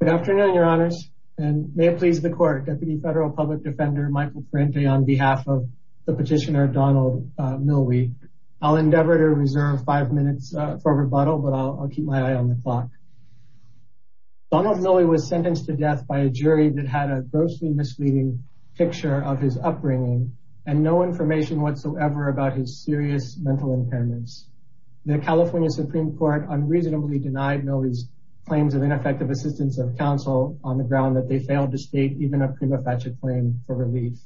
Good afternoon, your honors, and may it please the court, Deputy Federal Public Defender Michael Parente on behalf of the petitioner Donald Millwee. I'll endeavor to reserve five minutes for rebuttal, but I'll keep my eye on the clock. Donald Millwee was sentenced to death by a jury that had a grossly misleading picture of his upbringing and no information whatsoever about his serious mental impairments. The California Supreme Court unreasonably denied Millwee's claims of ineffective assistance of counsel on the ground that they failed to state even a prima facie claim for relief.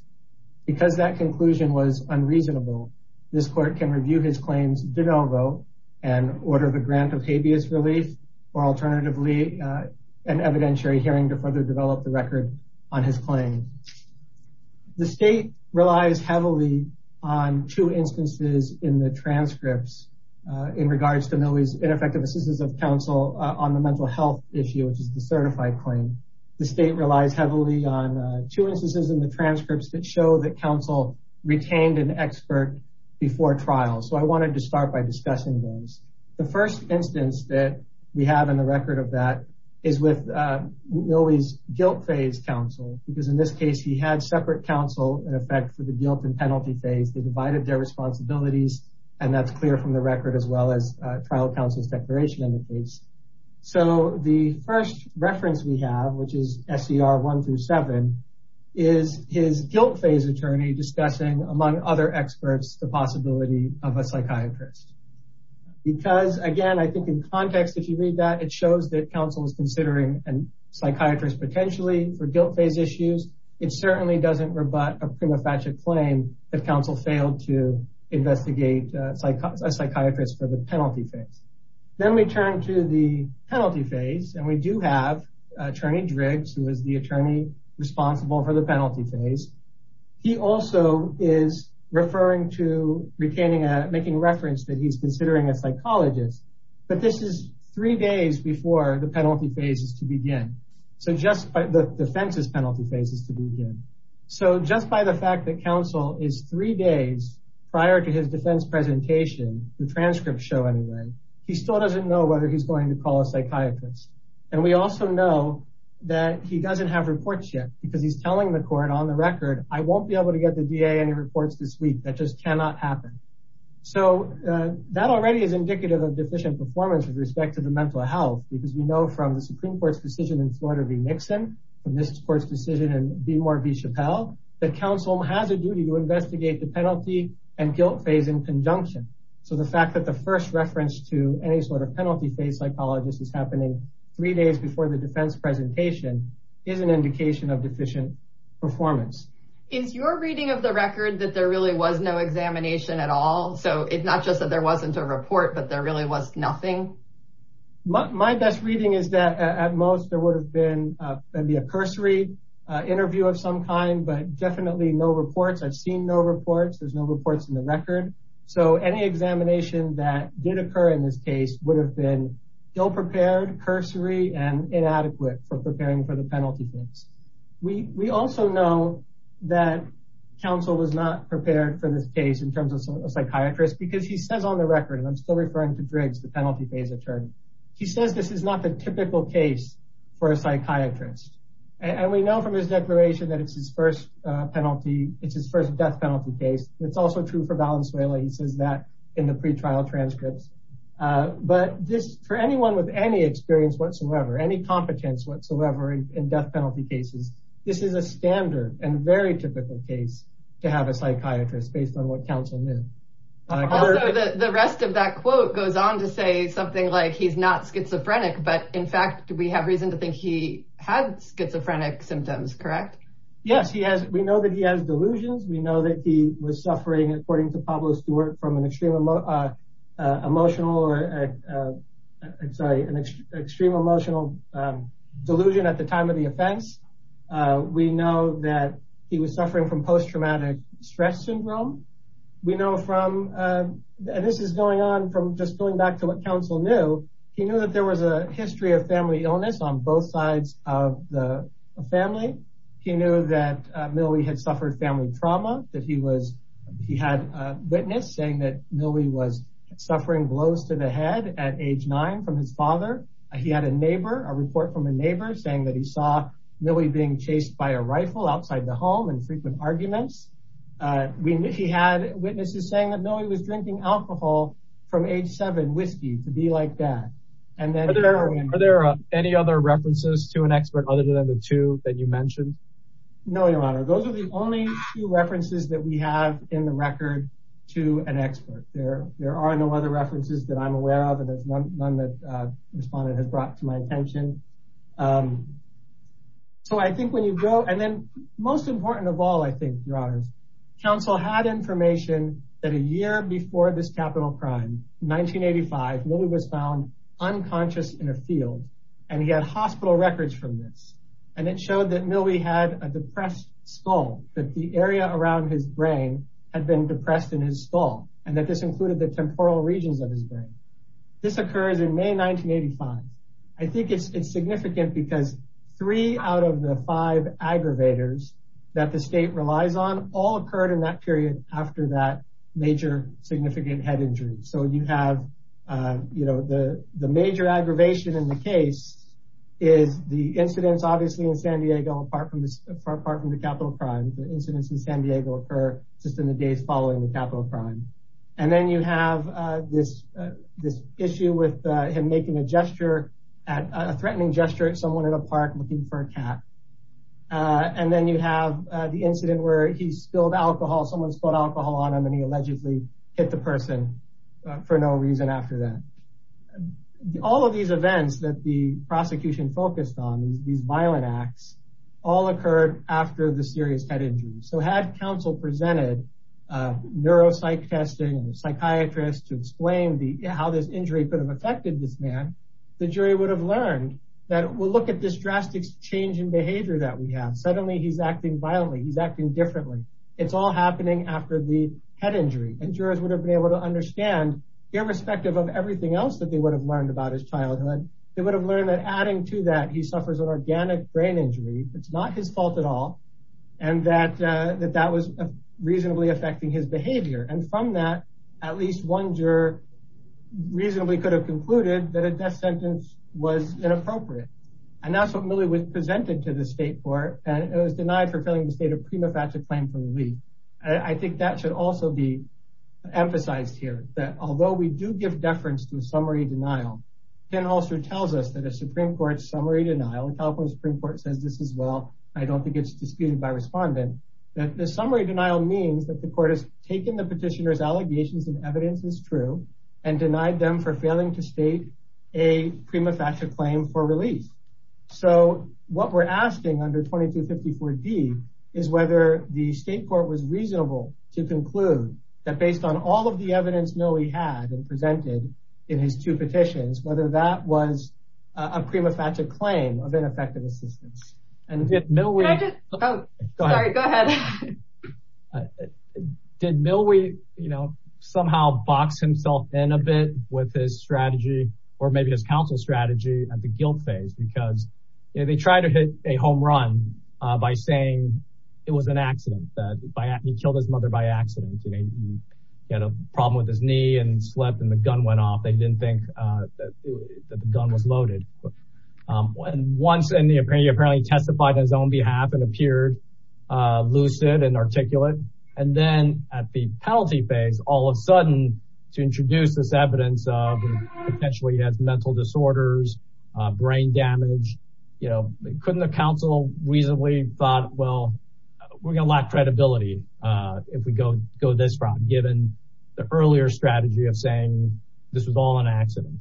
Because that conclusion was unreasonable, this court can review his claims de novo and order the grant of habeas relief, or alternatively, an evidentiary hearing to further develop the record on his claim. The state relies heavily on two instances in the transcripts in regards to Millwee's ineffective assistance of counsel on the mental health issue, which is the certified claim. The state relies heavily on two instances in the transcripts that show that counsel retained an expert before trial. So I wanted to start by discussing those. The first instance that we have in the record of that is with Millwee's guilt phase counsel, because in this case, he had separate counsel in effect for the guilt and penalty phase. They divided their responsibilities, and that's clear from the record as well as trial counsel's declaration indicates. So the first reference we have, which is SCR 1-7, is his guilt phase attorney discussing, among other experts, the possibility of a psychiatrist. Because, again, I think in context, if you read that, it shows that counsel is considering a psychiatrist potentially for guilt phase issues. It certainly doesn't rebut a prima facie claim that counsel failed to investigate a psychiatrist for the penalty phase. Then we turn to the penalty phase, and we do have attorney Driggs, who is the attorney responsible for the penalty phase. He also is referring to making reference that he's considering a psychologist. But this is three days before the penalty phase is to begin. So just by the defense's penalty phase is to begin. So just by the fact that counsel is three days prior to his defense presentation, the transcripts show anyway, he still doesn't know whether he's going to call a psychiatrist. And we also know that he doesn't have reports yet because he's telling the court on the record, I won't be able to get the DA any reports this week. That just cannot happen. So that already is indicative of deficient performance with respect to the mental health, because we know from the Supreme Court's decision in Florida v. Nixon, from this court's decision in Beemore v. Chappelle, that counsel has a duty to investigate the penalty and guilt phase in conjunction. So the fact that the first reference to any sort of penalty phase psychologist is happening three days before the defense presentation is an indication of deficient performance. Is your reading of the record that there really was no examination at all? So it's not just that there wasn't a report, but there really was nothing? My best reading is that at most there would have been maybe a cursory interview of some kind, but definitely no reports. I've seen no reports. There's no reports in the record. So any examination that did occur in this case would have been ill prepared, cursory and inadequate for preparing for the penalty phase. We also know that counsel was not prepared for this case in terms of a psychiatrist because he says on the record, and I'm still referring to Driggs, the penalty phase attorney, he says this is not the typical case for a psychiatrist. And we know from his declaration that it's his first penalty, it's his first death penalty case. It's also true for Valenzuela. He says that in the pretrial transcripts. But this, for anyone with any experience whatsoever, any competence whatsoever in death penalty cases, this is a standard and very typical case to have a psychiatrist based on what counsel knew. Also, the rest of that quote goes on to say something like he's not schizophrenic, but in fact, we have reason to think he had schizophrenic symptoms, correct? Yes, we know that he has delusions. We know that he was suffering, according to Pablo Stewart, from an extreme emotional delusion at the time of the offense. We know that he was suffering from post-traumatic stress syndrome. We know from, and this is going on from just going back to what counsel knew, he knew that there was a history of family illness on both sides of the family. He knew that Millie had suffered family trauma, that he had a witness saying that Millie was suffering blows to the head at age nine from his father. He had a neighbor, a report from a neighbor saying that he saw Millie being chased by a rifle outside the home and frequent arguments. He had witnesses saying that Millie was drinking alcohol from age seven, whiskey, to be like that. Are there any other references to an expert other than the two that you mentioned? No, Your Honor. Those are the only two references that we have in the record to an expert. There are no other references that I'm aware of, and there's none that a respondent has brought to my attention. So I think when you go, and then most important of all, I think, Your Honor, counsel had information that a year before this capital crime, 1985, Millie was found unconscious in a field, and he had hospital records from this. And it showed that Millie had a depressed skull, that the area around his brain had been depressed in his skull, and that this included the temporal regions of his brain. This occurs in May 1985. I think it's significant because three out of the five aggravators that the state relies on all occurred in that period after that major significant head injury. So you have, you know, the major aggravation in the case is the incidents, obviously, in San Diego, apart from the capital crime, the incidents in San Diego occur just in the days following the And then you have this, this issue with him making a gesture at a threatening gesture at someone in a park looking for a cat. And then you have the incident where he spilled alcohol, someone spilled alcohol on him, and he allegedly hit the person for no reason after that. All of these events that the prosecution focused on these violent acts, all psychiatrists to explain the how this injury could have affected this man, the jury would have learned that we'll look at this drastic change in behavior that we have, suddenly, he's acting violently, he's acting differently. It's all happening after the head injury, and jurors would have been able to understand, irrespective of everything else that they would have learned about his childhood, they would have learned that adding to that he suffers an organic brain injury, it's not his fault at all. And that that that was reasonably affecting his behavior. And from that, at least one juror reasonably could have concluded that a death sentence was inappropriate. And that's what Milley was presented to the state court, and it was denied for filling the state of prima facie claim for the week. I think that should also be emphasized here that although we do give deference to a summary denial, then also tells us that a Supreme Court summary denial in California Supreme Court says this well, I don't think it's disputed by respondent, that the summary denial means that the court has taken the petitioners allegations and evidence is true, and denied them for failing to state a prima facie claim for release. So what we're asking under 2254 D, is whether the state court was reasonable to conclude that based on all of the evidence Noe had and presented in his two petitions, whether that was a prima facie claim of ineffective assistance. No, we go ahead. Did Mill we, you know, somehow box himself in a bit with his strategy, or maybe his counsel strategy at the guilt phase, because they tried to hit a home run by saying it was an accident that by he killed his mother by accident. He had a problem with his knee and slept and the gun went off. They didn't think that the gun was loaded. And once and the apparently apparently testified on his own behalf and appeared lucid and articulate, and then at the penalty phase, all of a sudden, to introduce this evidence of potentially has mental disorders, brain damage, you know, couldn't the council reasonably thought, well, we're gonna lack credibility. If we go go this route, given the earlier strategy of saying, this was all an accident.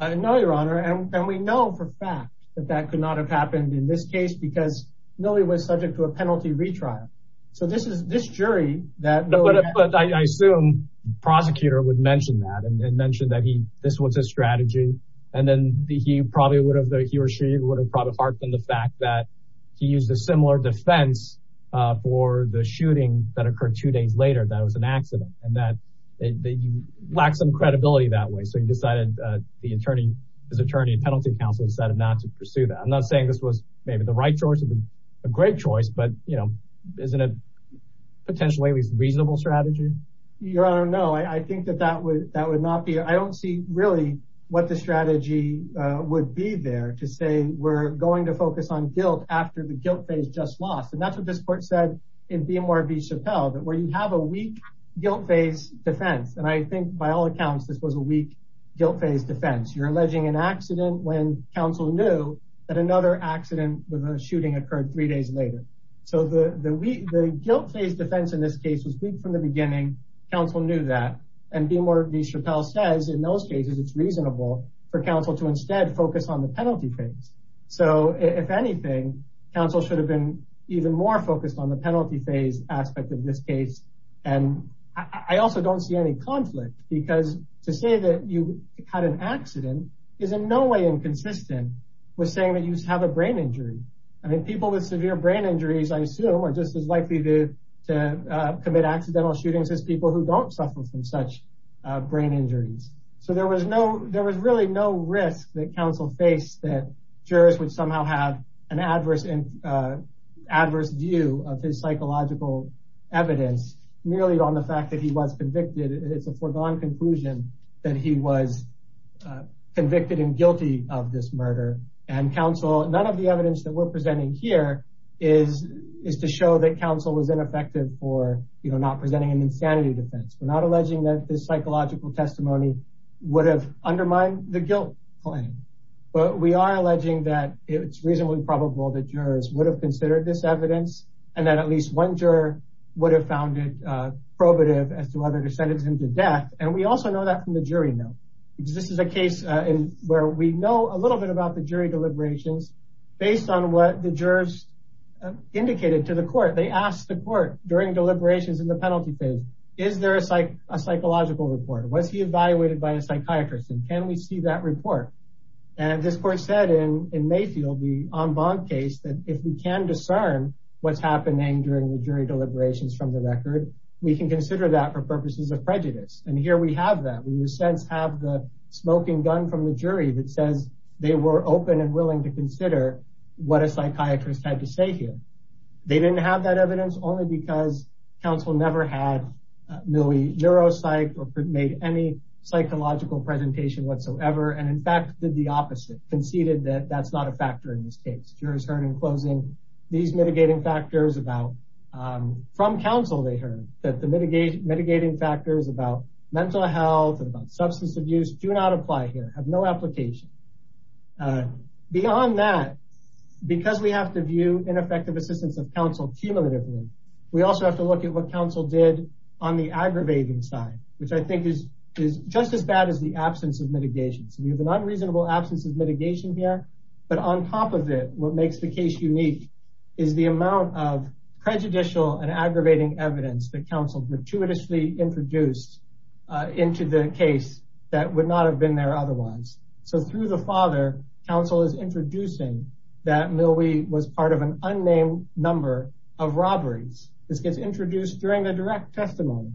No, Your Honor, and we know for a fact that that could not have happened in this case, because no, he was subject to a penalty retrial. So this is this jury that I assume, prosecutor would mention that and mentioned that he this was a strategy. And then he probably would have the he or she would have probably heartened the fact that he used a similar defense for the shooting that occurred two days later, that was an accident, and that they lack some credibility that way. So he decided, the attorney, his attorney and penalty counsel decided not to pursue that. I'm not saying this was maybe the right choice. It's a great choice. But you know, isn't it potentially at least reasonable strategy? Your Honor, no, I think that that would that would not be I don't see really what the strategy would be there to say we're going to focus on guilt after the guilt phase just lost. And that's what this court said, in BMR v. Chappelle, that where you have a weak guilt phase defense, and I think by all accounts, this was a weak guilt phase defense, you're alleging an accident when counsel knew that another accident with a shooting occurred three days later. So the guilt phase defense in this case was weak from the beginning, counsel knew that and BMR v. Chappelle says in those cases, it's reasonable for counsel to instead focus on the penalty phase. So if anything, counsel should have been even more focused on the and I also don't see any conflict because to say that you had an accident is in no way inconsistent with saying that you have a brain injury. I mean, people with severe brain injuries, I assume are just as likely to commit accidental shootings as people who don't suffer from such brain injuries. So there was no there was really no risk that counsel faced that jurors would somehow have an adverse view of his psychological evidence, merely on the fact that he was convicted. It's a foregone conclusion that he was convicted and guilty of this murder. And counsel, none of the evidence that we're presenting here is to show that counsel was ineffective for, you know, not presenting an insanity defense. We're not alleging that this psychological testimony would have undermined the guilt claim. But we are alleging that it's reasonably probable that jurors would have considered this evidence, and that at least one juror would have found it probative as to whether to sentence him to death. And we also know that from the jury note, because this is a case where we know a little bit about the jury deliberations, based on what the jurors indicated to the court, they asked the court during deliberations in the And can we see that report? And this court said in in Mayfield, the on bond case that if we can discern what's happening during the jury deliberations from the record, we can consider that for purposes of prejudice. And here we have that we sense have the smoking gun from the jury that says they were open and willing to consider what a psychiatrist had to say here. They didn't have that evidence only because counsel never had a neuro psych or made any psychological presentation whatsoever. And in fact, the opposite conceded that that's not a factor in this case, jurors heard in closing these mitigating factors about from counsel, they heard that the mitigation mitigating factors about mental health and about substance abuse do not apply here have no application. Beyond that, because we have to view ineffective assistance of counsel cumulatively, we also have to look at what counsel did on the aggravating side, which I think is, is just as bad as the absence of mitigation. So you have an unreasonable absence of mitigation here. But on top of it, what makes the case unique is the amount of prejudicial and aggravating evidence that counsel gratuitously introduced into the case that would not have been there otherwise. So through the father, counsel is introducing that Millie was part of an unnamed number of robberies. This gets introduced during the direct testimony.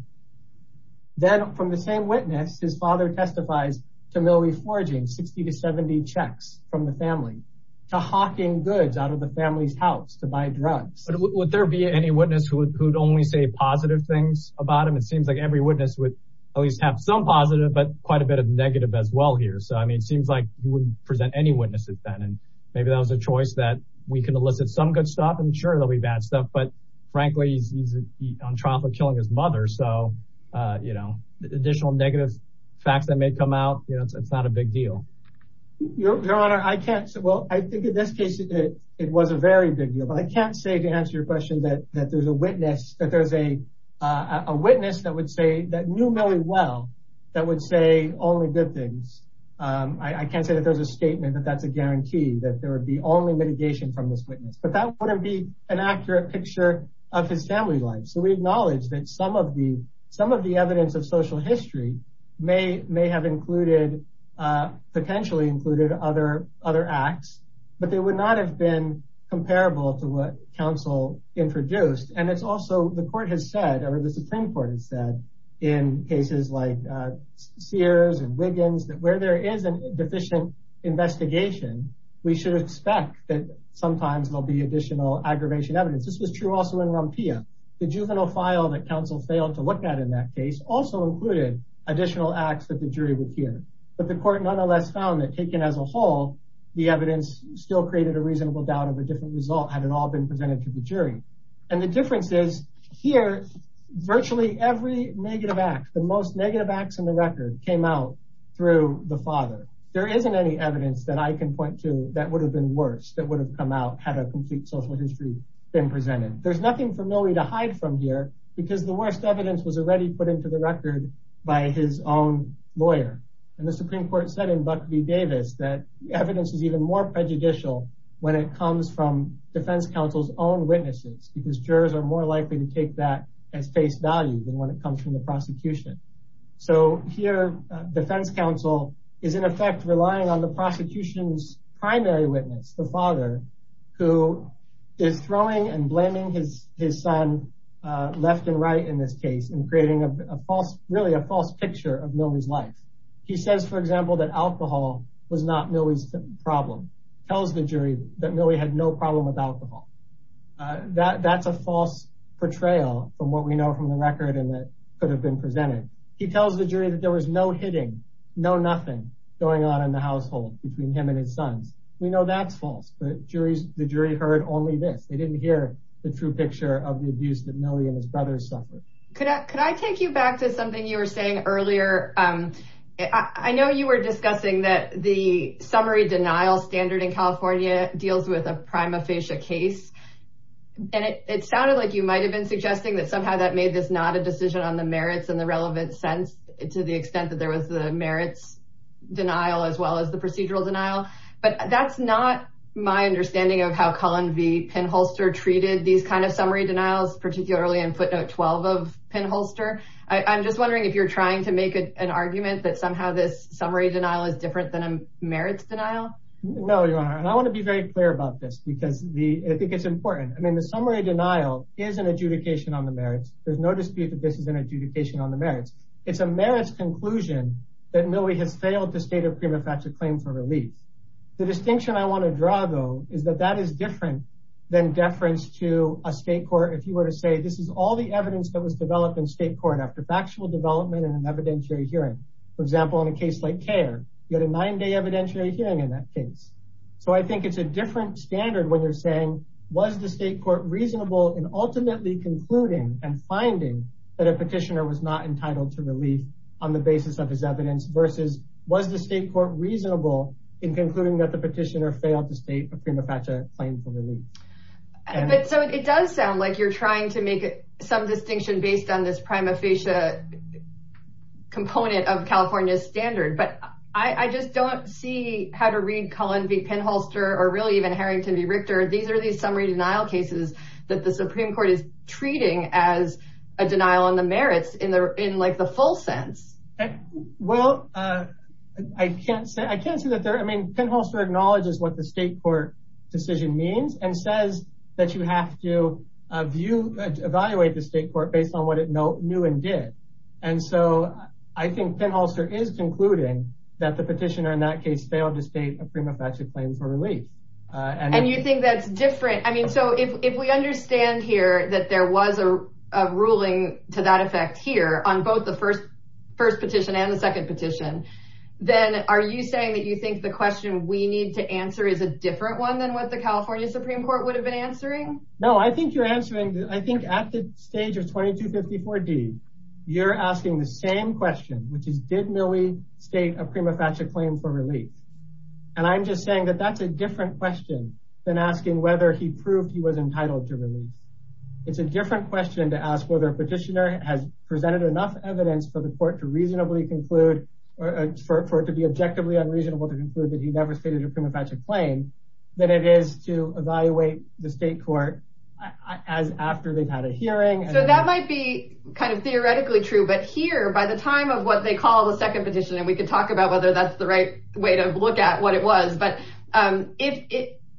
Then from the same witness, his father testifies to Millie forging 60 to 70 checks from the family to hawking goods out of the family's house to buy drugs. But would there be any witness who would only say positive things about him? It seems like every witness would at least have some positive but quite a bit of negative as well here. So I mean, it seems like he wouldn't present any witnesses then. And maybe that was a choice that we can elicit some good stuff. I'm sure there'll be bad stuff. But frankly, he's on trial for killing his mother. So, you know, additional negative facts that may come out, you know, it's not a big deal. Your Honor, I can't say well, I think in this case, it was a very big deal. But I can't say to answer your question that that there's a witness that there's a witness that would say that knew Millie well, that would say only good things. I can't say that there's a statement that that's a guarantee that there would be only mitigation from this witness, but that wouldn't be an accurate picture of his family life. So we acknowledge that some of the some of the evidence of social history may have included, potentially included other acts, but they would not have been comparable to what counsel introduced. And it's also the has said, or the Supreme Court has said, in cases like Sears and Wiggins, that where there is an deficient investigation, we should expect that sometimes there'll be additional aggravation evidence. This was true also in Rumpia. The juvenile file that counsel failed to look at in that case also included additional acts that the jury would hear. But the court nonetheless found that taken as a whole, the evidence still created a reasonable doubt of a different result had it been presented to the jury. And the difference is here, virtually every negative act, the most negative acts in the record came out through the father. There isn't any evidence that I can point to that would have been worse that would have come out had a complete social history been presented. There's nothing for Millie to hide from here, because the worst evidence was already put into the record by his own lawyer. And the Supreme Court said in Buck v. Davis, that evidence is more prejudicial when it comes from defense counsel's own witnesses, because jurors are more likely to take that as face value than when it comes from the prosecution. So here, defense counsel is in effect relying on the prosecution's primary witness, the father, who is throwing and blaming his son left and right in this case and creating a false, really a false picture of Millie's life. He says, for example, that alcohol was not Millie's problem, tells the jury that Millie had no problem with alcohol. That's a false portrayal from what we know from the record and that could have been presented. He tells the jury that there was no hitting, no nothing going on in the household between him and his sons. We know that's false, but the jury heard only this. They didn't hear the true picture of the abuse that Millie and his brothers suffered. Could I take you back to something you were saying earlier? I know you were discussing that the summary denial standard in California deals with a prima facie case, and it sounded like you might have been suggesting that somehow that made this not a decision on the merits and the relevant sense to the extent that there was the merits denial as well as the procedural denial. But that's not my understanding of how Cullen v. Pinholster treated these kind of summary denials, particularly in footnote 12 of Pinholster. I'm just wondering if you're trying to make an argument that somehow this summary denial is different than a merits denial? No, Your Honor. I want to be very clear about this because I think it's important. I mean, the summary denial is an adjudication on the merits. There's no dispute that this is an adjudication on the merits. It's a merits conclusion that Millie has failed to state a prima facie claim for relief. The distinction I want to draw, is that that is different than deference to a state court. If you were to say this is all the evidence that was developed in state court after factual development and an evidentiary hearing. For example, in a case like CAIR, you had a nine-day evidentiary hearing in that case. So I think it's a different standard when you're saying was the state court reasonable in ultimately concluding and finding that a petitioner was not entitled to relief on the basis of his evidence versus was the state court reasonable in concluding that the petitioner failed to state a prima facie claim for relief. So it does sound like you're trying to make some distinction based on this prima facie component of California's standard. But I just don't see how to read Cullen v. Penholster or really even Harrington v. Richter. These are these summary denial cases that the Supreme Court is treating as a denial on the merits in like the full sense. Well, I can't say that. Penholster acknowledges what the state court decision means and says that you have to evaluate the state court based on what it knew and did. And so I think Penholster is concluding that the petitioner in that case failed to state a prima facie claim for relief. And you think that's different? I mean, so if we understand here that there was a ruling to effect here on both the first petition and the second petition, then are you saying that you think the question we need to answer is a different one than what the California Supreme Court would have been answering? No, I think you're answering, I think at the stage of 2254d, you're asking the same question, which is did Milley state a prima facie claim for relief? And I'm just saying that that's a different question than asking whether he proved he was entitled to relief. It's a presented enough evidence for the court to reasonably conclude or for it to be objectively unreasonable to conclude that he never stated a prima facie claim than it is to evaluate the state court as after they've had a hearing. So that might be kind of theoretically true. But here, by the time of what they call the second petition, and we can talk about whether that's the right way to look at what it was, but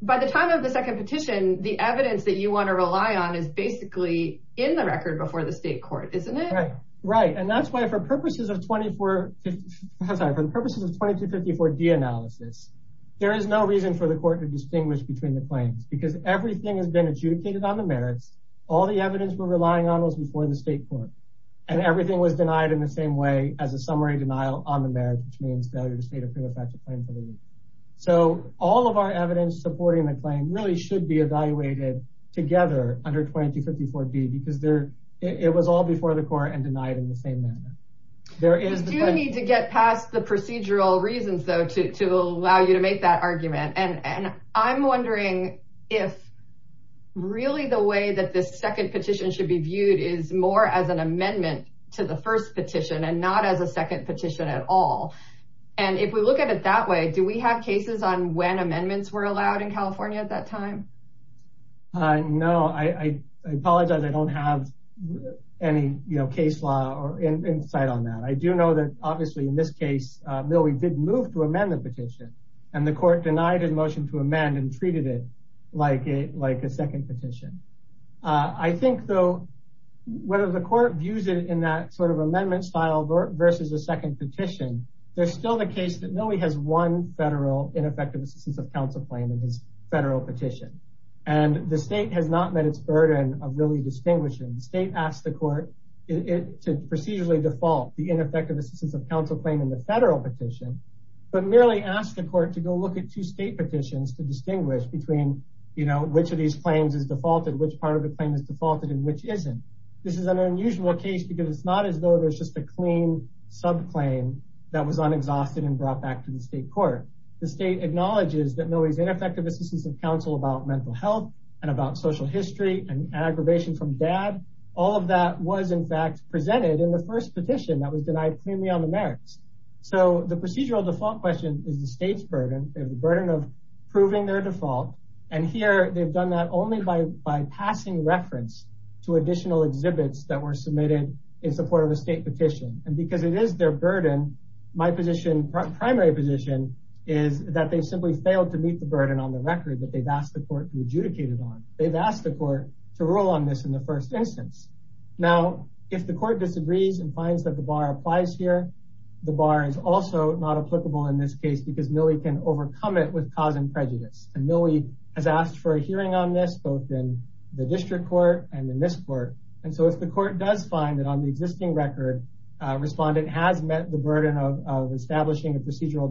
by the time of the second petition, the evidence that you want to rely on is basically in the record before the state court, isn't it? Right. And that's why for purposes of 2254d analysis, there is no reason for the court to distinguish between the claims because everything has been adjudicated on the merits. All the evidence we're relying on was before the state court. And everything was denied in the same way as a summary denial on the merits, which means failure to state a prima facie claim for relief. So all of our evidence supporting the together under 2254d because there, it was all before the court and denied in the same manner. There is no need to get past the procedural reasons, though, to allow you to make that argument. And I'm wondering if really the way that this second petition should be viewed is more as an amendment to the first petition and not as a second petition at all. And if we look at it that way, do we have cases on when amendments were allowed in California at that time? No, I apologize. I don't have any, you know, case law or insight on that. I do know that obviously, in this case, no, we didn't move to amend the petition. And the court denied his motion to amend and treated it like a like a second petition. I think, though, whether the court views it in that sort of amendment style versus the second petition, there's still the case that no, he has one federal ineffective assistance of counsel claim in his federal petition. And the state has not met its burden of really distinguishing the state asked the court to procedurally default the ineffective assistance of counsel claim in the federal petition, but merely asked the court to go look at two state petitions to distinguish between, you know, which of these claims is defaulted, which part of the claim is defaulted and which isn't. This is an unusual case, because it's not as though there's just a clean sub claim that was unexhausted and brought back to the state court. The state acknowledges that ineffective assistance of counsel about mental health, and about social history and aggravation from dad. All of that was in fact presented in the first petition that was denied premium merits. So the procedural default question is the state's burden, the burden of proving their default. And here, they've done that only by by passing reference to additional exhibits that were submitted in support of a state petition. And because it is their burden, my position, primary position, is that they simply failed to meet the burden on the record that they've asked the court to be adjudicated on. They've asked the court to rule on this in the first instance. Now, if the court disagrees and finds that the bar applies here, the bar is also not applicable in this case, because Millie can overcome it with cause and prejudice. And Millie has asked for a hearing on this both in the district court and in this court. And so if the procedural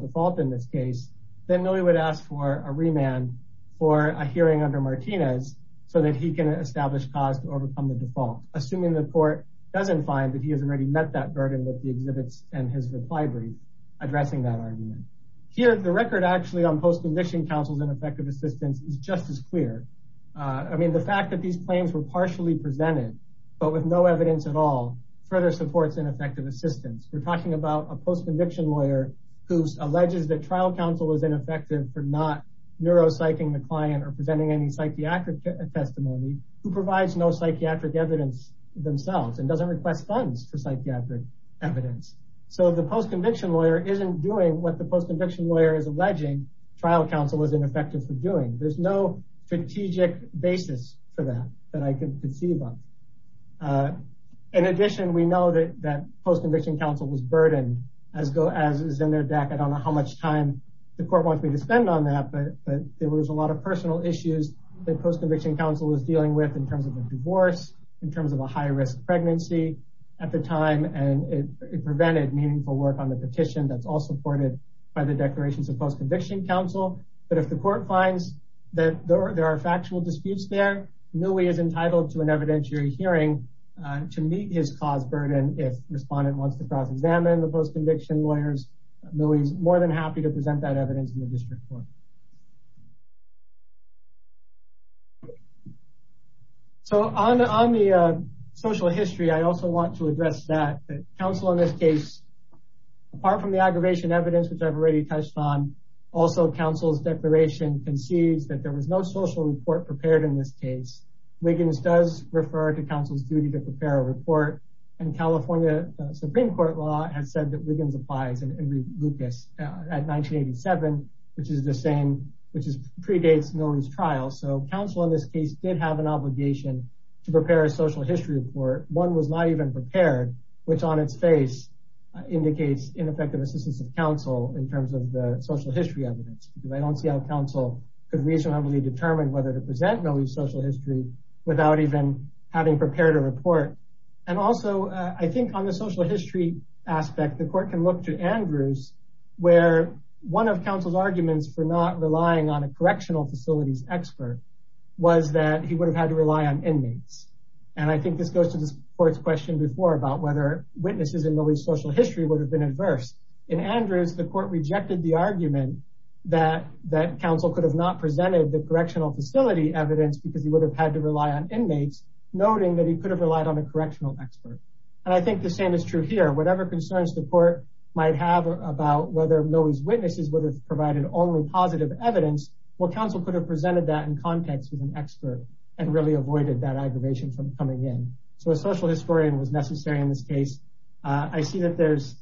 default in this case, then Millie would ask for a remand for a hearing under Martinez, so that he can establish cause to overcome the default, assuming the court doesn't find that he has already met that burden with the exhibits and his reply brief, addressing that argument. Here, the record actually on post-conviction counsel's ineffective assistance is just as clear. I mean, the fact that these claims were partially presented, but with no evidence at all, further supports ineffective assistance. We're talking about a post-conviction lawyer who alleges that trial counsel was ineffective for not neuropsyching the client or presenting any psychiatric testimony, who provides no psychiatric evidence themselves and doesn't request funds for psychiatric evidence. So the post-conviction lawyer isn't doing what the post-conviction lawyer is alleging trial counsel was ineffective for doing. There's no strategic basis for that, that I can conceive of. In addition, we know that post-conviction counsel was burdened as go as is in their deck. I don't know how much time the court wants me to spend on that, but there was a lot of personal issues that post-conviction counsel was dealing with in terms of the divorce, in terms of a high risk pregnancy at the time, and it prevented meaningful work on the petition that's all supported by the declarations of post-conviction counsel. But if the court finds that there are factual disputes there, Millie is entitled to an evidentiary hearing to meet his cause burden if respondent wants to cross-examine the post-conviction lawyers. Millie's more than happy to present that evidence in the district court. So on the social history, I also want to address that counsel in this case, apart from the aggravation evidence, which I've already touched on, also counsel's declaration concedes that there was no social report prepared in this case. Wiggins does refer to counsel's duty to prepare a report, and California Supreme Court law has said that Wiggins applies in Lucas at 1987, which is the same, which predates Millie's trial. So counsel in this case did have an obligation to prepare a social history report. One was not even prepared, which on its face indicates ineffective assistance of counsel in terms of the social history evidence. I don't see how counsel could reasonably determine whether to present Millie's social history without even having prepared a report. And also I think on the social history aspect, the court can look to Andrews, where one of counsel's arguments for not relying on a correctional facilities expert was that he would have had to rely on inmates. And I think this goes to the court's question before about whether witnesses in Millie's social history would have been adverse. In Andrews, the court rejected the argument that counsel could have not presented the correctional facility evidence because he would have had to rely on inmates, noting that he could have relied on a correctional expert. And I think the same is true here. Whatever concerns the court might have about whether Millie's witnesses would have provided only positive evidence, well, counsel could have presented that in context with an expert and really avoided that aggravation from coming in. So a social historian was necessary in this case. I see that there's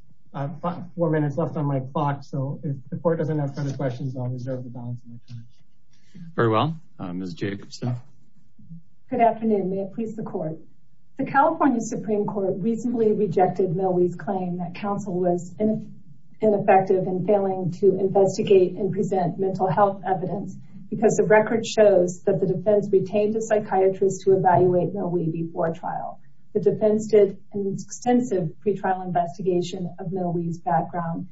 four minutes left on my clock, so if the court doesn't have further questions, I'll reserve the balance of my time. Very well. Ms. Jacobson. Good afternoon. May it please the court. The California Supreme Court recently rejected Millie's claim that counsel was ineffective in failing to investigate and present mental health evidence because the record shows that the defense retained a psychiatrist to evaluate Millie before trial. The defense did an extensive pre-trial investigation of Millie's background,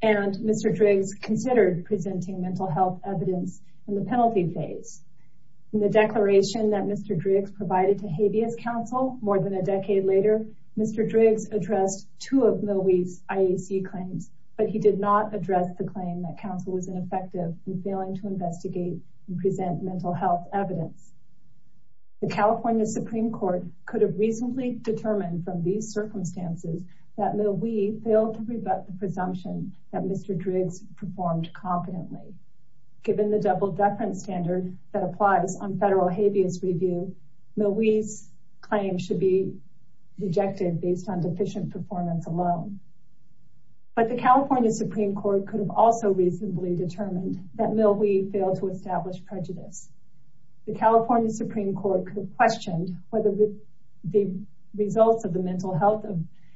and Mr. Driggs considered presenting mental health evidence in the penalty phase. In the declaration that Mr. Driggs provided to habeas counsel more than a decade later, Mr. Driggs addressed two of Millie's IAC claims, but he did not address the claim that counsel was ineffective in failing to investigate and present mental health evidence. The California Supreme Court could have reasonably determined from these circumstances that Millie failed to rebut the presumption that Mr. Driggs performed confidently. Given the double-deference standard that applies on federal habeas review, Millie's claim should be rejected based on deficient performance alone. But the California Supreme Court could have also determined that Millie failed to establish prejudice. The California Supreme Court could have questioned whether the results of the mental health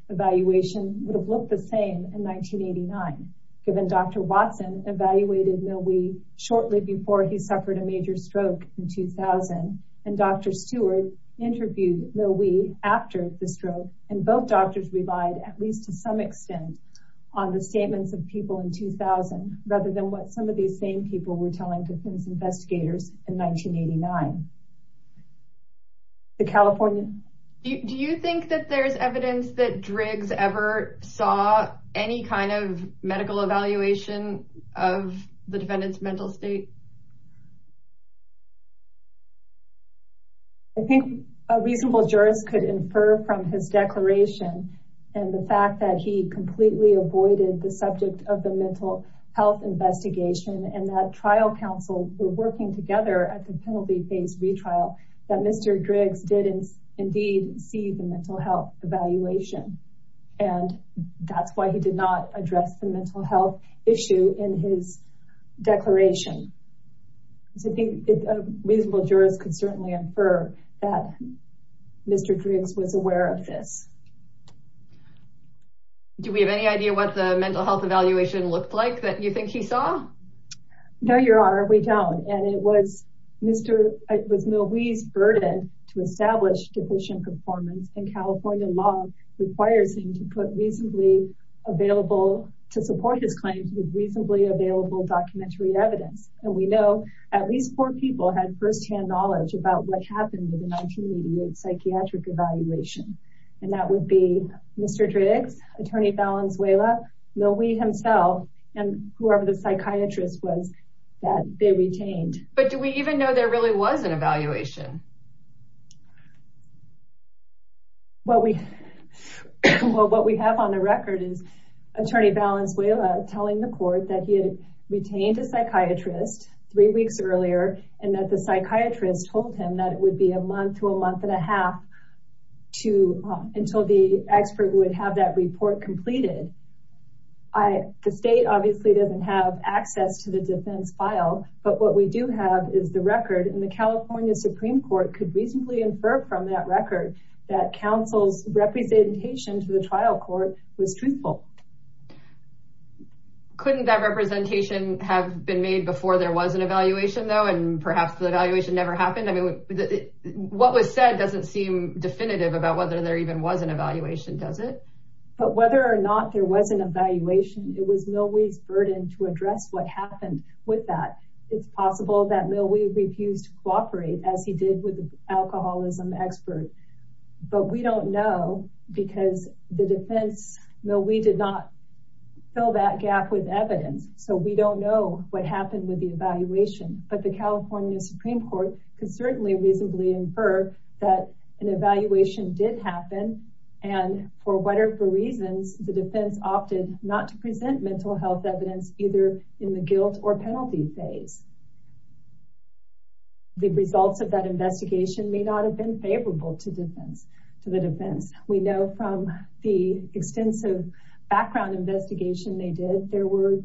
evaluation would have looked the same in 1989, given Dr. Watson evaluated Millie shortly before he suffered a major stroke in 2000, and Dr. Stewart interviewed Millie after the stroke, and both doctors relied, at least to some extent, on the statements of people in 2000, rather than what some of these same people were telling defense investigators in 1989. The California... Do you think that there's evidence that Driggs ever saw any kind of medical evaluation of the defendant's mental state? I think a reasonable jurist could infer from his declaration and the fact that he completely avoided the subject of the mental health investigation and that trial counsel were working together at the penalty-based retrial that Mr. Driggs did indeed see the mental health evaluation, and that's why he did not address the mental health issue in his declaration. So I think a reasonable jurist could certainly infer that Mr. Driggs was aware of this. Do we have any idea what the mental health evaluation looked like that you think he saw? No, Your Honor, we don't, and it was Millie's burden to establish deficient performance, and California law requires him to put reasonably available... to support his claims with reasonably available documentary evidence, and we know at least four people had firsthand knowledge about what happened in the 1988 psychiatric evaluation, and that would be Mr. Driggs, Attorney Valenzuela, Millie himself, and whoever the psychiatrist was that they retained. But do we even know there really was an evaluation? Well, what we have on the record is Attorney Valenzuela telling the court that he had retained a psychiatrist three weeks earlier and that the psychiatrist told him that it would be a month to a month and a half to... until the expert would have that report completed. The state obviously doesn't have access to the defense file, but what we do have is the record and the California Supreme Court could reasonably infer from that record that counsel's representation to the trial court was truthful. Couldn't that representation have been made before there was an evaluation, though, and perhaps the evaluation never happened? I mean, what was said doesn't seem definitive about whether there even was an evaluation, does it? But whether or not there was an evaluation, it was Millie's burden to address what happened with that. It's possible that Millie refused to cooperate as he did with the alcoholism expert, but we don't know because the defense... Millie did not fill that gap with evidence, so we don't know what happened with the evaluation. But the California Supreme Court could certainly reasonably infer that an evaluation did happen, and for whatever reasons, the defense opted not to present mental health evidence either in the guilt or penalty phase. The results of that investigation may not have been favorable to defense... to the defense. We know from the extensive background investigation they did, there were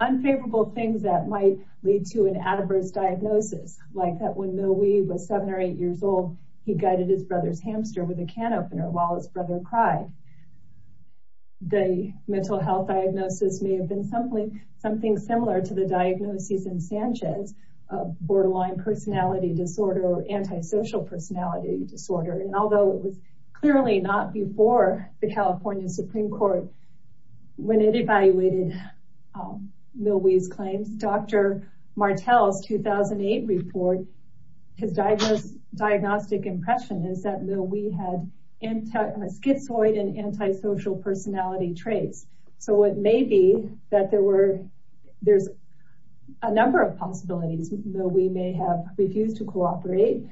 unfavorable things that might lead to an adverse diagnosis, like that when Millie was seven or eight years old, he guided his brother's hamster with a can opener while his the mental health diagnosis may have been something similar to the diagnosis in Sanchez, a borderline personality disorder or antisocial personality disorder. And although it was clearly not before the California Supreme Court, when it evaluated Millie's claims, Dr. Martel's 2008 report, his diagnostic impression is that Millie had schizoid and antisocial personality traits. So it may be that there's a number of possibilities. Millie may have refused to cooperate,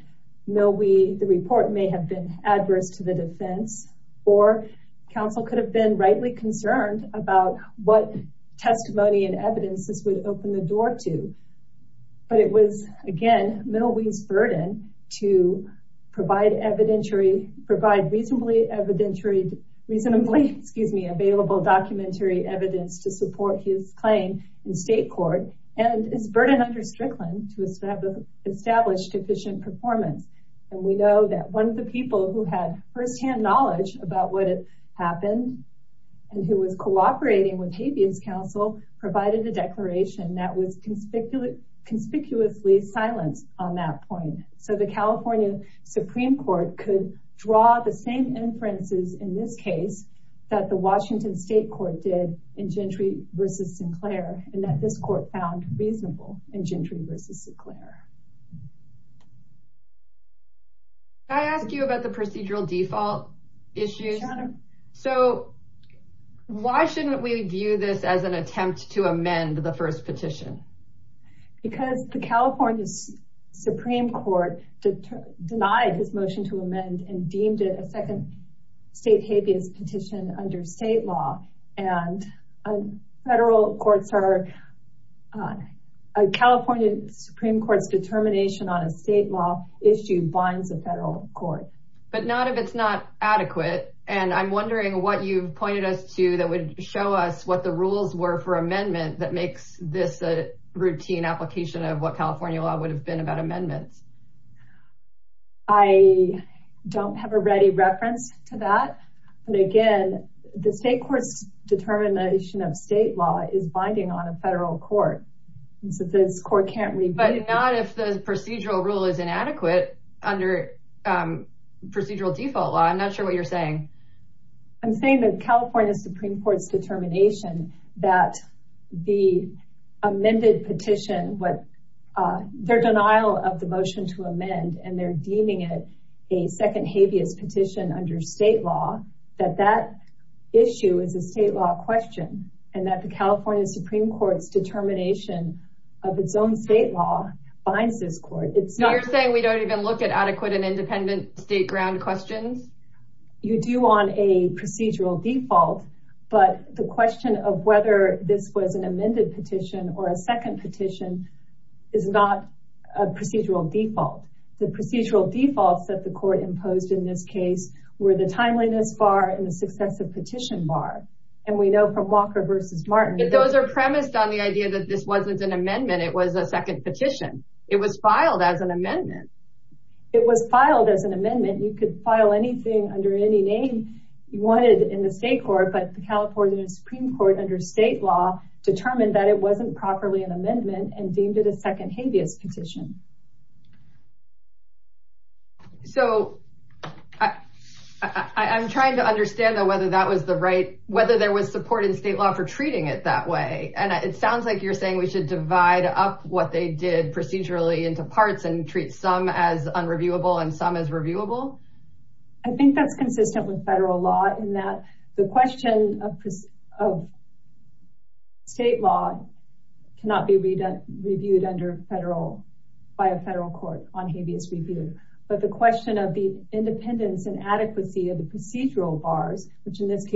the report may have been adverse to the defense, or counsel could have been rightly concerned about what testimony and evidence this would open the door to. But it was, again, Millie's burden to provide evidentiary, provide reasonably evidentiary, reasonably, excuse me, available documentary evidence to support his claim in state court, and his burden under Strickland to establish sufficient performance. And we know that one of the people who had firsthand knowledge about what had happened, and who was cooperating with habeas counsel, provided a declaration that was conspicuously silent on that point. So the California Supreme Court could draw the same inferences in this case that the Washington State Court did in Gentry versus Sinclair, and that this court found reasonable in Gentry versus Sinclair. Can I ask you about the procedural default issues? So why shouldn't we view this as an attempt to amend the first petition? Because the California Supreme Court denied his motion to amend and deemed it a second state habeas petition under state law, and federal courts are, California Supreme Court's determination on a state law issue binds the federal court. But not if it's not adequate, and I'm wondering what you've pointed us to that would show us what the rules were for amendment that makes this a routine application of what California law would have been about amendments. I don't have a ready reference to that. And again, the state court's determination of state law is binding on a federal court. And so this court can't review. But not if the procedural rule is inadequate under procedural default law. I'm not sure what you're saying. I'm saying that California Supreme Court's determination that the amended petition, what their denial of the motion to amend, and they're deeming it a second habeas petition under state law, that that issue is a state law question, and that the California Supreme Court's determination of its own state law binds this court. You're saying we don't even look at adequate and independent state ground questions? You do on a procedural default, but the question of whether this was an amended petition or a second petition is not a procedural default. The procedural defaults that the court imposed in this case were the timeliness bar and the successive petition bar. And we know from Walker versus Martin that those are premised on the idea that this wasn't an amendment, it was a second petition. It was filed as an amendment. It was filed as an amendment. You could file anything under any name you wanted in the state court, but the California Supreme Court under state law determined that it wasn't properly an amendment and deemed it a second habeas petition. So I'm trying to understand though whether that was the right, whether there was support in state law for treating it that way. And it sounds like you're saying we should divide up what they did into parts and treat some as unreviewable and some as reviewable? I think that's consistent with federal law in that the question of state law cannot be reviewed by a federal court on habeas review. But the question of the independence and adequacy of the procedural bars, which in this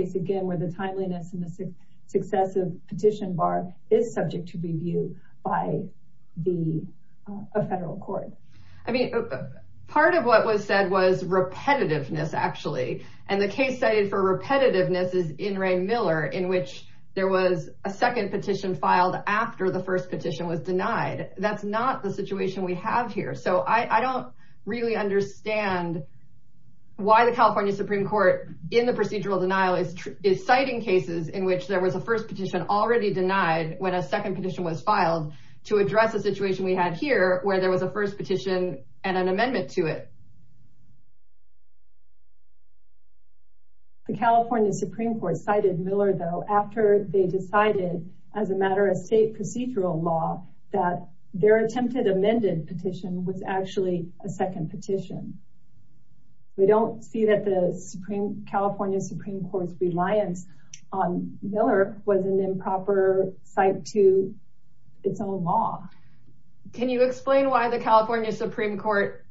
federal court. I mean, part of what was said was repetitiveness, actually. And the case cited for repetitiveness is in Ray Miller, in which there was a second petition filed after the first petition was denied. That's not the situation we have here. So I don't really understand why the California Supreme Court in the procedural denial is citing cases in which there was a first already denied when a second petition was filed to address a situation we had here where there was a first petition and an amendment to it. The California Supreme Court cited Miller though, after they decided as a matter of state procedural law, that their attempted amended petition was actually a second petition. We don't see that California Supreme Court's reliance on Miller was an improper site to its own law. Can you explain why the California Supreme Court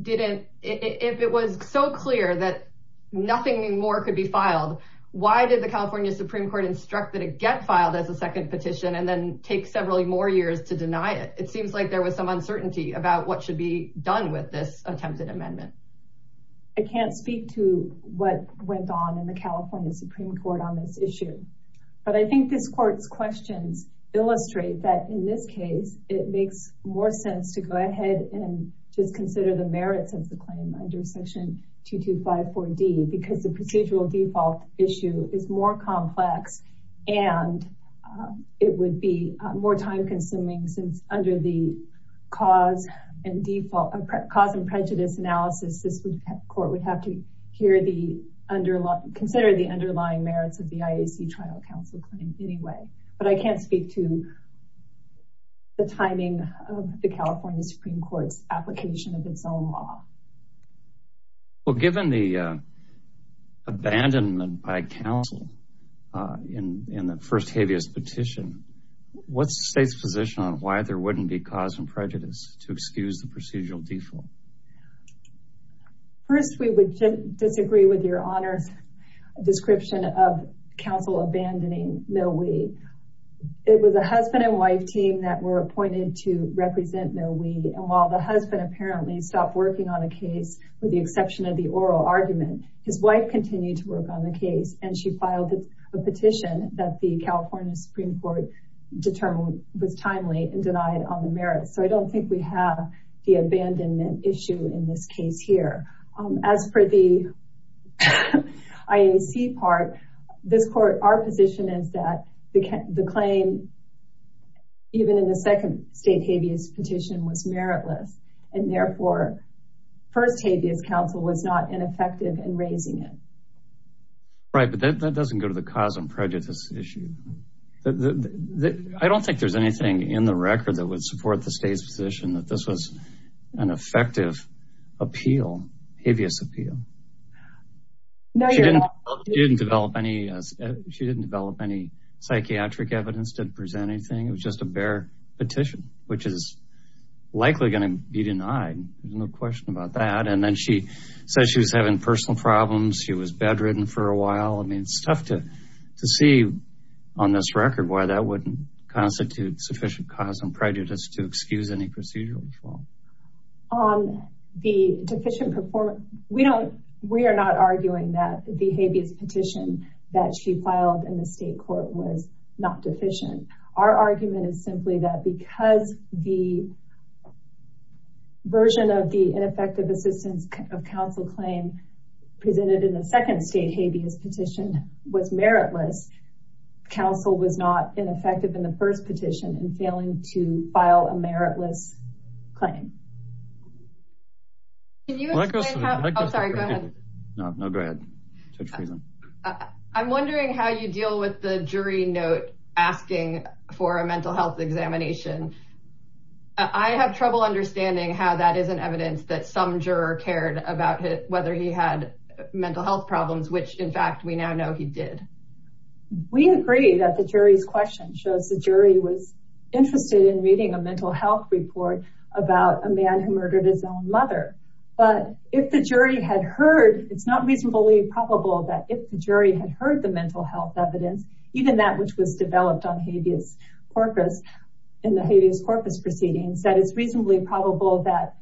didn't, if it was so clear that nothing more could be filed, why did the California Supreme Court instruct that it get filed as a second petition and then take several more years to deny it? It seems like there was some uncertainty about what should be done with this attempted amendment. I can't speak to what went on in the California Supreme Court on this issue, but I think this court's questions illustrate that in this case, it makes more sense to go ahead and just consider the merits of the claim under section 2254D, because the procedural default issue is more complex and it would be more time consuming since under the cause and prejudice analysis, this court would have to consider the underlying merits of the IAC trial counsel claim anyway. But I can't speak to the timing of the California Supreme Court's application of its own law. Well, given the abandonment by counsel in the first habeas petition, what's the state's position on why there wouldn't be cause and prejudice to excuse the procedural default? First, we would disagree with your honors description of counsel abandoning Mill Wee. It was a husband and wife team that were appointed to represent Mill Wee, and while the husband apparently stopped working on a case with the petition that the California Supreme Court determined was timely and denied on the merits, so I don't think we have the abandonment issue in this case here. As for the IAC part, our position is that the claim, even in the second state habeas petition, was meritless, and therefore, first habeas counsel was not ineffective in raising it. Right, but that doesn't go to the cause and prejudice issue. I don't think there's anything in the record that would support the state's position that this was an effective appeal, habeas appeal. She didn't develop any psychiatric evidence to present anything. It was just a bare petition, which is likely going to be denied. There's no question about that. And then she said she was having personal problems. She was bedridden for a while. I mean, it's tough to see on this record why that wouldn't constitute sufficient cause and prejudice to excuse any procedural default. We are not arguing that the habeas petition that she filed in the state court was not deficient. Our argument is simply that because the version of the ineffective assistance of counsel claim presented in the second state habeas petition was meritless, counsel was not ineffective in the first petition in failing to file a meritless claim. I'm wondering how you deal with the jury note asking for a mental health examination. I have trouble understanding how that isn't evidence that some juror cared about whether he had mental health problems, which in fact we now know he did. We agree that the jury's question shows the jury was interested in reading a mental health report about a man who murdered his own mother. But if the jury had heard, it's not reasonably probable that if the jury had heard mental health evidence, even that which was developed on habeas corpus in the habeas corpus proceedings, that it's reasonably probable that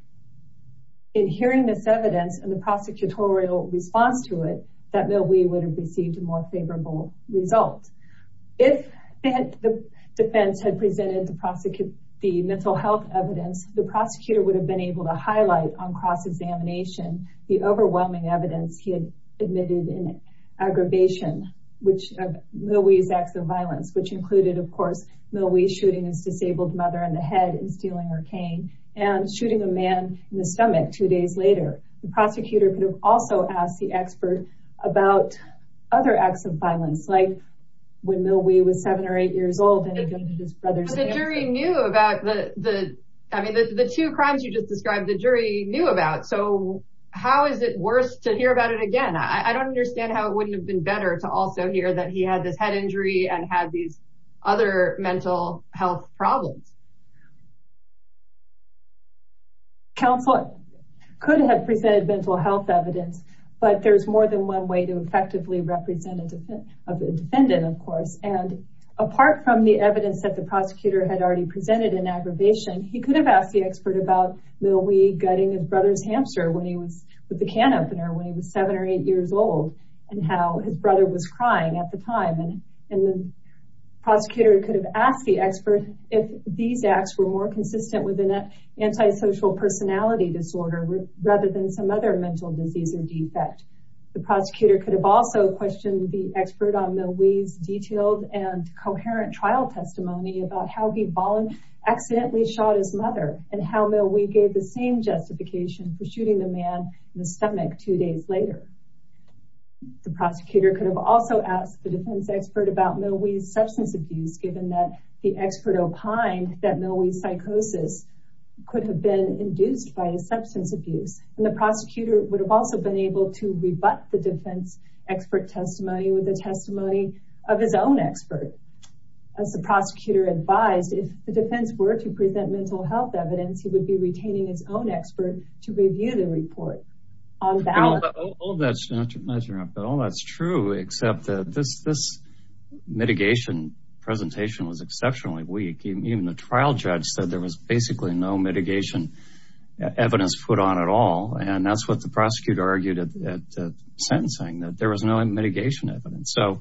in hearing this evidence and the prosecutorial response to it, that Millwee would have received a more favorable result. If the defense had presented the mental health evidence, the prosecutor would have been able to highlight on cross-examination the overwhelming evidence he had admitted in aggravation of Millwee's acts of violence, which included, of course, Millwee shooting his disabled mother in the head and stealing her cane and shooting a man in the stomach two days later. The prosecutor could have also asked the expert about other acts of violence, like when Millwee was seven or eight years old. The two crimes you just described, the jury knew about, so how is it worse to hear about it again? I don't understand how it wouldn't have been better to also hear that he had this head injury and had these other mental health problems. Counsel could have presented mental health evidence, but there's more than one way to the evidence that the prosecutor had already presented in aggravation. He could have asked the expert about Millwee gutting his brother's hamster with the can opener when he was seven or eight years old and how his brother was crying at the time. The prosecutor could have asked the expert if these acts were more consistent with an antisocial personality disorder rather than some other mental disease or defect. The prosecutor could have also questioned the expert on Millwee's and coherent trial testimony about how he accidentally shot his mother and how Millwee gave the same justification for shooting the man in the stomach two days later. The prosecutor could have also asked the defense expert about Millwee's substance abuse given that the expert opined that Millwee's psychosis could have been induced by his substance abuse, and the prosecutor would have also been able to rebut the defense expert testimony with the own expert. As the prosecutor advised, if the defense were to present mental health evidence, he would be retaining his own expert to review the report. All that's true, except that this mitigation presentation was exceptionally weak. Even the trial judge said there was basically no mitigation evidence put on at all, and that's what the prosecutor argued at sentencing, that there was no mitigation evidence. So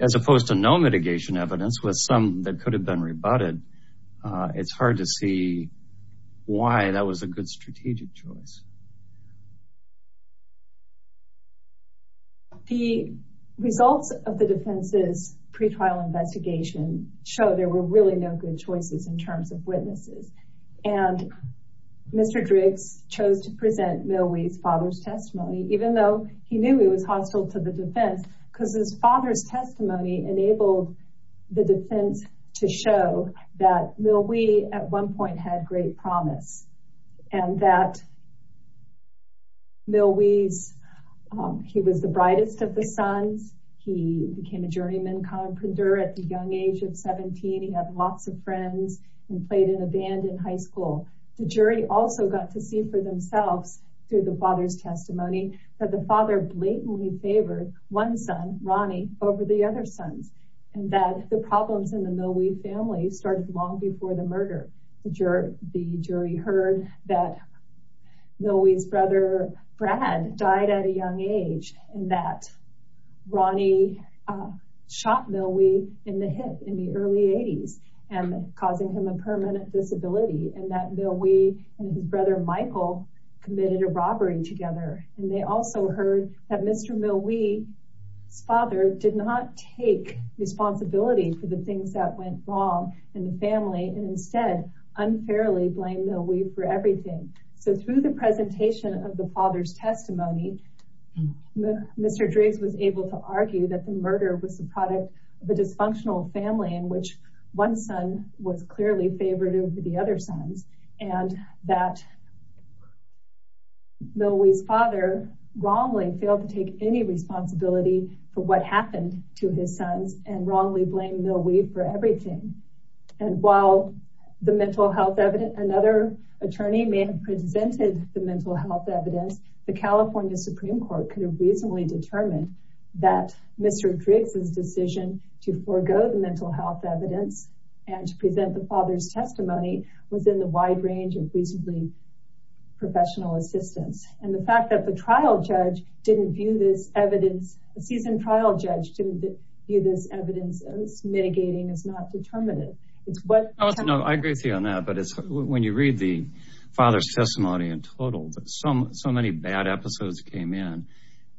as opposed to no mitigation evidence with some that could have been rebutted, it's hard to see why that was a good strategic choice. The results of the defense's pretrial investigation show there were really no good choices in terms of witnesses, and Mr. Driggs chose to present Millwee's father's testimony even though he knew he was hostile to the defense, because his father's testimony enabled the defense to show that Millwee at one point had great promise, and that Millwee, he was the brightest of the sons, he became a journeyman conqueror at the young age of 17, he had lots of friends, and played in a band in high school. The jury also got to see through the father's testimony that the father blatantly favored one son, Ronnie, over the other sons, and that the problems in the Millwee family started long before the murder. The jury heard that Millwee's brother, Brad, died at a young age, and that Ronnie shot Millwee in the hip in the early 80s, and causing him a permanent disability, and that Millwee and his brother Michael committed a robbery together, and they also heard that Mr. Millwee's father did not take responsibility for the things that went wrong in the family, and instead unfairly blamed Millwee for everything. So through the presentation of the father's testimony, Mr. Driggs was able to argue that murder was the product of a dysfunctional family in which one son was clearly favoring the other sons, and that Millwee's father wrongly failed to take any responsibility for what happened to his sons, and wrongly blamed Millwee for everything. And while the mental health evidence, another attorney may have presented the mental health evidence, the California Supreme Court could reasonably determine that Mr. Driggs's decision to forego the mental health evidence and to present the father's testimony was in the wide range of reasonably professional assistance. And the fact that the trial judge didn't view this evidence, the seasoned trial judge didn't view this evidence as mitigating, as not determinative. I agree with you on that, but when you read the bad episodes that came in,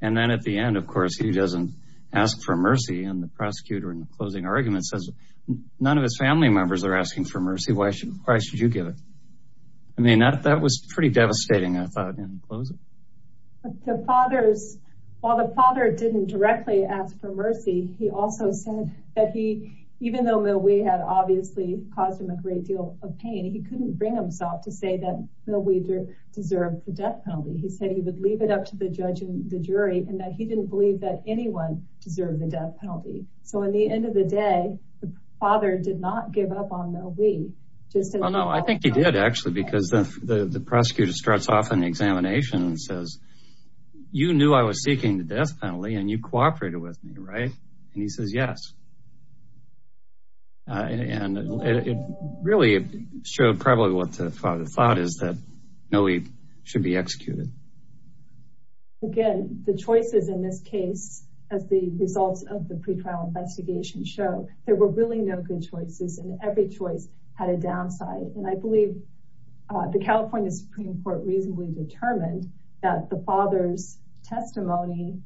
and then at the end, of course, he doesn't ask for mercy, and the prosecutor in the closing argument says, none of his family members are asking for mercy, why should you give it? I mean, that was pretty devastating, I thought, in closing. The father's, while the father didn't directly ask for mercy, he also said that he, even though Millwee had obviously caused him a great deal of pain, he couldn't bring himself to say that Millwee deserved the death penalty. He said he would leave it up to the judge and the jury, and that he didn't believe that anyone deserved the death penalty. So in the end of the day, the father did not give up on Millwee. Well, no, I think he did, actually, because the prosecutor starts off an examination and says, you knew I was seeking the death penalty, and you cooperated with me, right? And he says, yes. And it really showed probably what the father thought, is that Millwee should be executed. Again, the choices in this case, as the results of the pretrial investigation show, there were really no good choices, and every choice had a downside. And I believe the California Supreme Court reasonably determined that the father's testimony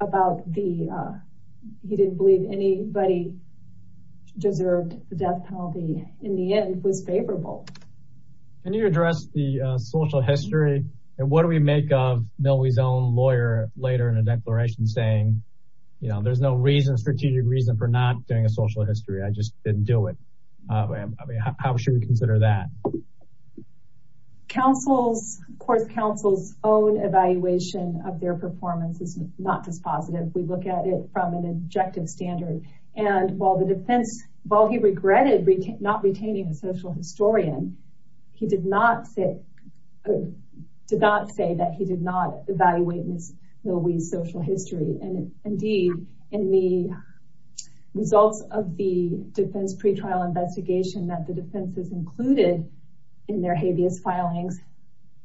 about the, he didn't believe anybody deserved the death penalty, in the end, was favorable. Can you address the social history, and what do we make of Millwee's own lawyer later in a declaration saying, you know, there's no reason, strategic reason for not doing a social history, I just didn't do it. I mean, how should we consider that? The counsel's, of course, counsel's own evaluation of their performance is not dispositive. We look at it from an objective standard. And while the defense, while he regretted not retaining a social historian, he did not say that he did not evaluate Millwee's social history. And indeed, in the results of the defense pretrial investigation, that the defense has included in their habeas filings,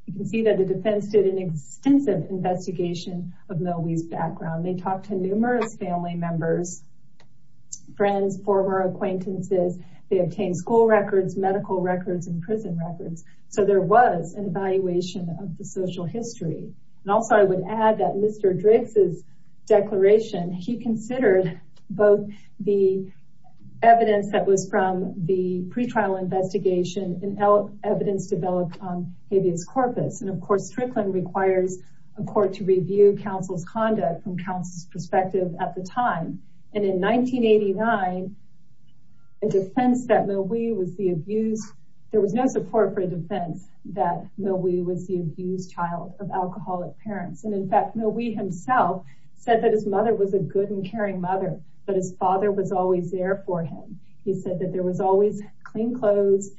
you can see that the defense did an extensive investigation of Millwee's background. They talked to numerous family members, friends, former acquaintances. They obtained school records, medical records, and prison records. So there was an evaluation of the social history. And also, I would add that Mr. The evidence that was from the pretrial investigation and evidence developed on habeas corpus. And of course, Strickland requires a court to review counsel's conduct from counsel's perspective at the time. And in 1989, a defense that Millwee was the abused, there was no support for a defense that Millwee was the abused child of alcoholic parents. And in fact, Millwee himself said that his mother was a good and caring mother, but his father was always there for him. He said that there was always clean clothes,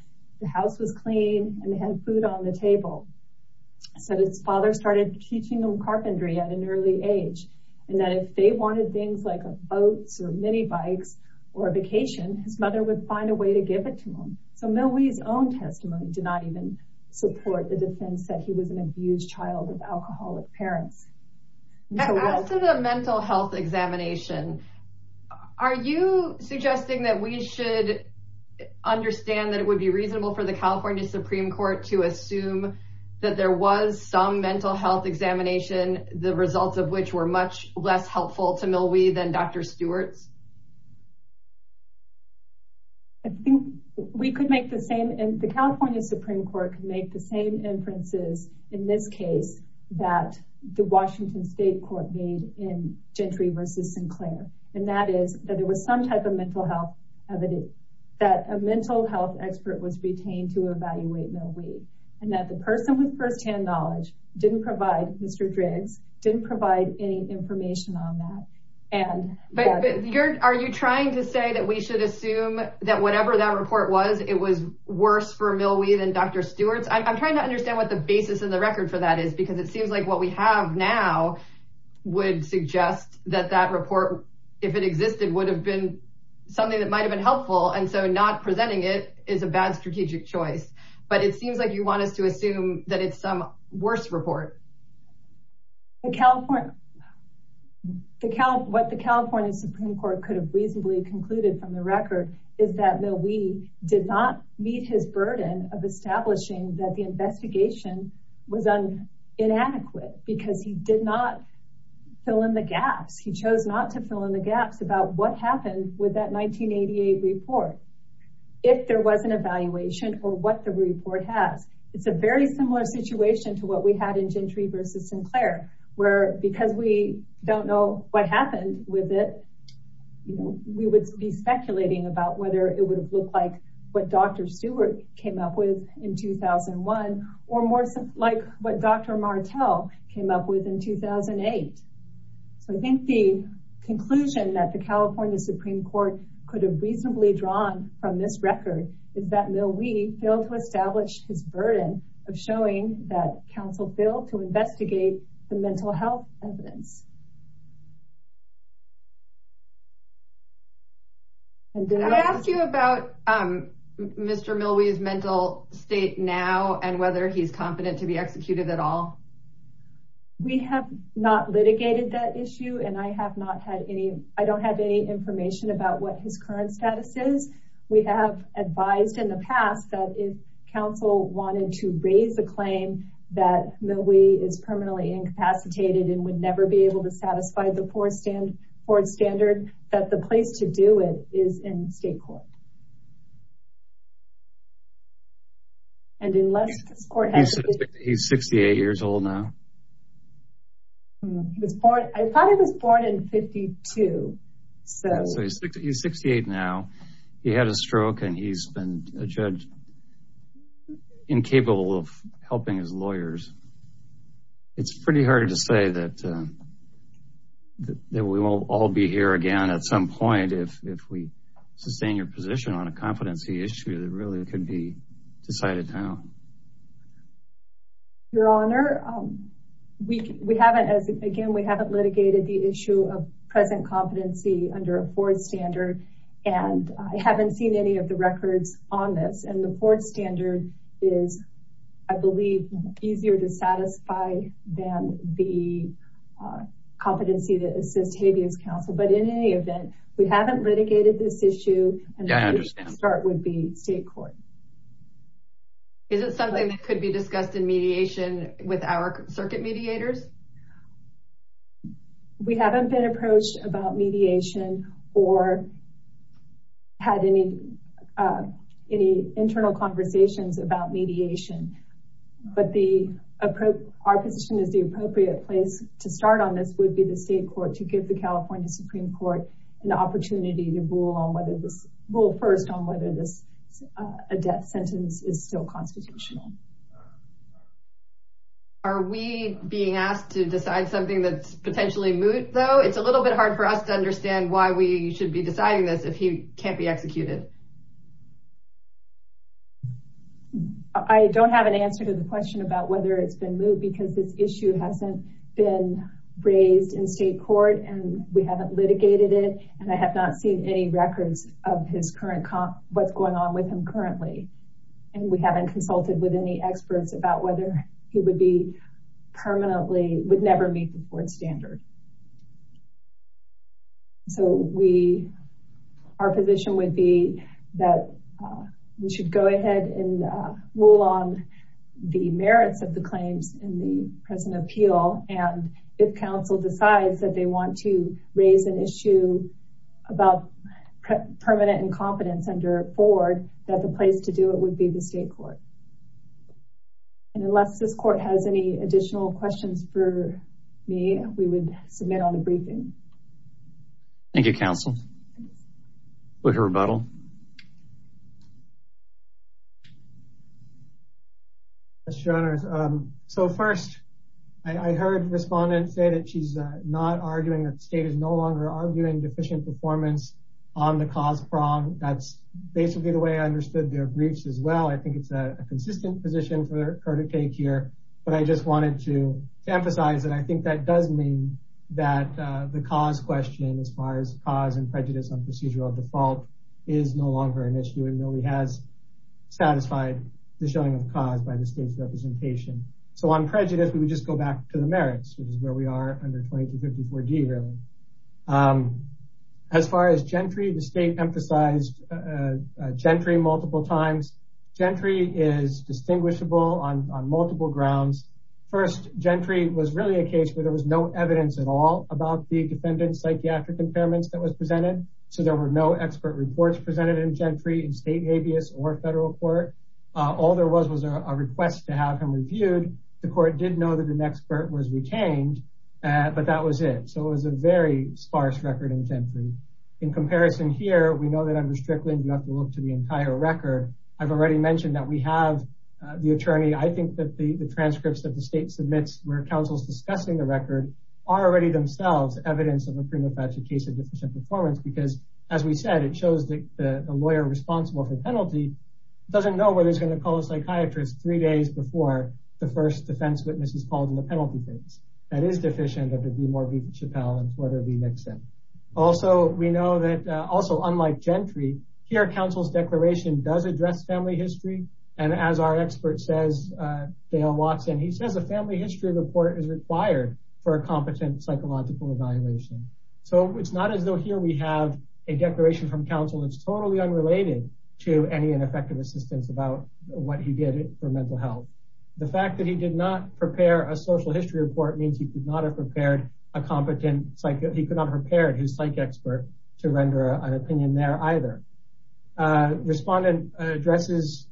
the house was clean, and they had food on the table. So his father started teaching them carpentry at an early age. And that if they wanted things like boats or minibikes, or vacation, his mother would find a way to give it to him. So Millwee's own testimony did not even support the defense that he was an abused child of alcoholic parents. Are you suggesting that we should understand that it would be reasonable for the California Supreme Court to assume that there was some mental health examination, the results of which were much less helpful to Millwee than Dr. Stewart's? I think we could make the same and the California Supreme Court can make the same inferences in this case that the Washington State Court made in Gentry v. Sinclair. And that is that there was some type of mental health evidence that a mental health expert was retained to evaluate Millwee. And that the person with firsthand knowledge didn't provide, Mr. Driggs, didn't provide any information on that. Are you trying to say that we should assume that whatever that report was, it was worse for Millwee than Dr. Stewart's? I'm trying to figure out what the basis in the record for that is, because it seems like what we have now would suggest that that report, if it existed, would have been something that might've been helpful. And so not presenting it is a bad strategic choice. But it seems like you want us to assume that it's some worse report. What the California Supreme Court could have reasonably concluded from the record is that Millwee did not meet his burden of establishing that the investigation was inadequate because he did not fill in the gaps. He chose not to fill in the gaps about what happened with that 1988 report, if there was an evaluation or what the report has. It's a very similar situation to what we had in Gentry v. Sinclair, where because we don't know what happened with it, we would be speculating about whether it would have looked like what Dr. Stewart came up with in 2001, or more like what Dr. Martel came up with in 2008. So I think the conclusion that the California Supreme Court could have reasonably drawn from this record is that Millwee failed to establish his burden of showing that counsel failed to establish. And did I ask you about Mr. Millwee's mental state now and whether he's competent to be executed at all? We have not litigated that issue, and I don't have any information about what his current status is. We have advised in the past that if counsel wanted to raise a claim that Millwee is permanently incapacitated and would never be able to satisfy the four standard, that the place to do it is in state court. He's 68 years old now. I thought he was born in 1952. He's 68 now. He had a stroke, and he's been a judge incapable of helping his lawyers. It's pretty hard to say that we won't all be here again at some point if we sustain your position on a competency issue that really could be decided now. Your Honor, we haven't, as again, we haven't litigated the issue of present competency under a four standard, and I haven't seen any of the records on this. And the four standard is, I believe, easier to satisfy than the competency to assist habeas counsel. But in any event, we haven't litigated this issue, and the place to start would be state court. Is it something that could be discussed in mediation with our circuit mediators? We haven't been approached about mediation or had any internal conversations about mediation, but our position is the appropriate place to start on this would be the state court to give the California Supreme Court an opportunity to rule first on whether this, a death sentence, is still constitutional. Are we being asked to decide something that's potentially moot, though? It's a little bit hard for us to understand why we should be deciding this if he can't be executed. I don't have an answer to the question about whether it's been moot because this issue hasn't been raised in state court, and we haven't litigated it, and I have not seen any records of his current, what's going on with him currently. And we haven't consulted with his experts about whether he would be permanently, would never meet the board standard. So we, our position would be that we should go ahead and rule on the merits of the claims in the present appeal, and if counsel decides that they want to raise an issue about permanent incompetence under board, that the place to do it would be the state court. And unless this court has any additional questions for me, we would submit on the briefing. Thank you, counsel. We'll hear a rebuttal. Mr. Renners, so first, I heard respondents say that she's not arguing that the state is no longer arguing deficient performance on the cause prong. That's basically the way I understood their briefs as well. I think it's a consistent position for her to take here, but I just wanted to emphasize that I think that does mean that the cause question, as far as cause and prejudice on procedural default, is no longer an issue and really has satisfied the showing of cause by the state's representation. So on prejudice, we would just go back to the merits, which is where are under 2254D really. As far as Gentry, the state emphasized Gentry multiple times. Gentry is distinguishable on multiple grounds. First, Gentry was really a case where there was no evidence at all about the defendant's psychiatric impairments that was presented. So there were no expert reports presented in Gentry in state habeas or federal court. All there was was a request to have him reviewed. The court did know that an expert was retained, but that was it. So it was a very sparse record in Gentry. In comparison here, we know that under Strickland, you have to look to the entire record. I've already mentioned that we have the attorney. I think that the transcripts that the state submits where counsel's discussing the record are already themselves evidence of a prima facie case of deficient performance because, as we said, it shows that the lawyer responsible for the penalty doesn't know whether he's going to call a psychiatrist three days before the first defense witness is called in the penalty case. That is deficient of the DuMore v. Chappelle and Porter v. Nixon. Also, we know that also, unlike Gentry, here counsel's declaration does address family history. And as our expert says, Dale Watson, he says a family history report is required for a competent psychological evaluation. So it's not as though here we have a declaration from counsel that's totally unrelated to any ineffective assistance about what he did for mental health. The fact that he did not prepare a social history report means he could not have prepared a competent, he could not have prepared his psych expert to render an opinion there either. Respondent addresses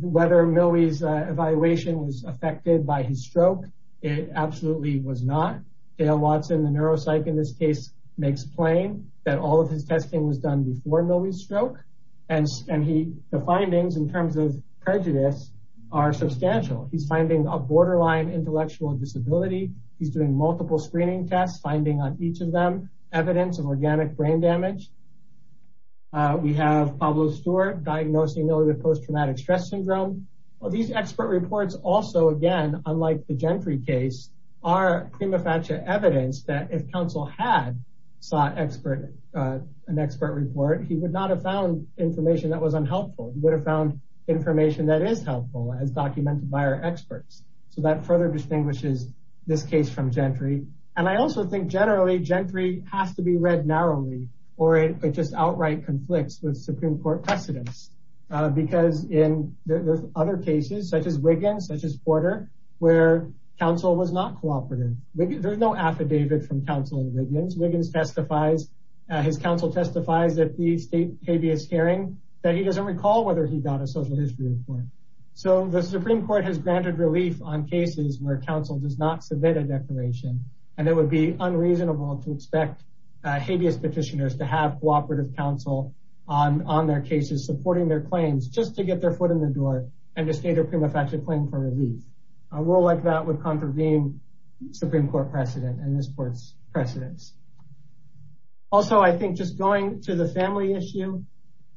whether Millwee's evaluation was affected by his stroke. It absolutely was not. Dale Watson, the neuropsych in this case, makes plain that all of his testing was done before Millwee's stroke. And the findings in terms of prejudice are substantial. He's finding a borderline intellectual disability. He's doing multiple screening tests, finding on each of them evidence of organic brain damage. We have Pablo Stewart diagnosing Millwee with post-traumatic stress syndrome. These expert reports also, again, unlike the Gentry case, are prima facie evidence that if counsel had sought an expert report, he would not have found information that was unhelpful. He would have found information that is helpful as documented by our experts. So that further distinguishes this case from Gentry. And I also think generally Gentry has to be read narrowly or it just outright conflicts with Supreme Court precedents. Because in other cases, such as Wiggins, such as Porter, where counsel was not cooperative, there's no affidavit from counsel in Wiggins. Wiggins testifies, his counsel testifies at the state habeas hearing that he doesn't recall whether he got a social history report. So the Supreme Court has granted relief on cases where counsel does not submit a declaration. And it would be unreasonable to expect habeas petitioners to have cooperative counsel on their cases supporting their claims just to get their foot in the door and to state a prima facie claim for relief. A rule like that would contravene Supreme Court precedent and this court's precedents. Also, I think just going to the family issue,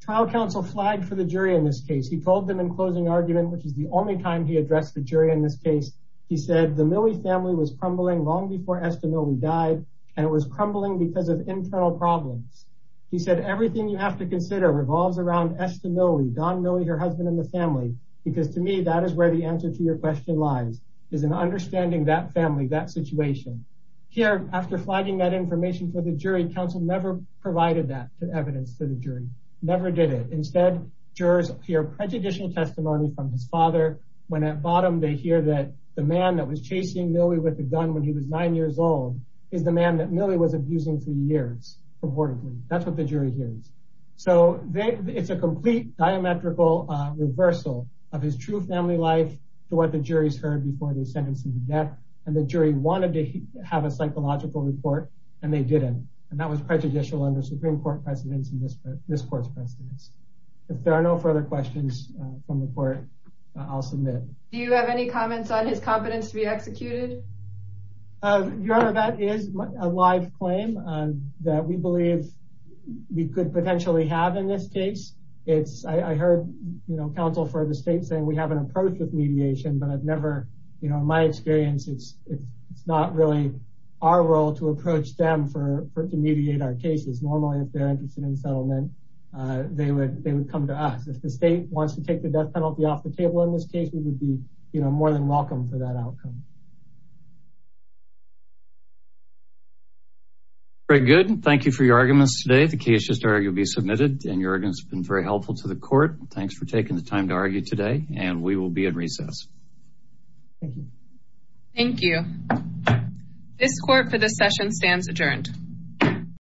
trial counsel flagged for the jury in this case. He told them in closing argument, which is the only time he addressed the jury in this case, he said, the Millie family was crumbling long before Esther Millie died. And it was crumbling because of internal problems. He said, everything you have to consider revolves around Esther Millie, Don Millie, her husband, and the family. Because to me, that is where the answer to your question lies, is in understanding that family, that situation. Here, after flagging that information for the jury, counsel never provided that evidence to the jury, never did it. Instead, jurors hear prejudicial testimony from his father when at bottom, they hear that the man that was chasing Millie with the gun when he was nine years old is the man that Millie was abusing for years, reportedly. That's what the jury hears. So it's a complete diametrical reversal of his true family life to what the jury's heard before they sentenced him to death. And the jury wanted to have a psychological report, and they didn't. And that was prejudicial under Supreme Court precedents and this court's precedents. If there are no further questions from the court, I'll submit. Your Honor, that is a live claim that we believe we could potentially have in this case. I heard counsel for the state saying we have an approach with mediation, but I've never, in my experience, it's not really our role to approach them to mediate our cases. Normally, if they're interested in settlement, they would come to us. If the state wants to take the death penalty off the table in this case, we would be more than welcome for that outcome. All right, good. Thank you for your arguments today. The case is ready to be submitted, and your arguments have been very helpful to the court. Thanks for taking the time to argue today, and we will be in recess. Thank you. Thank you. This court for this session stands adjourned.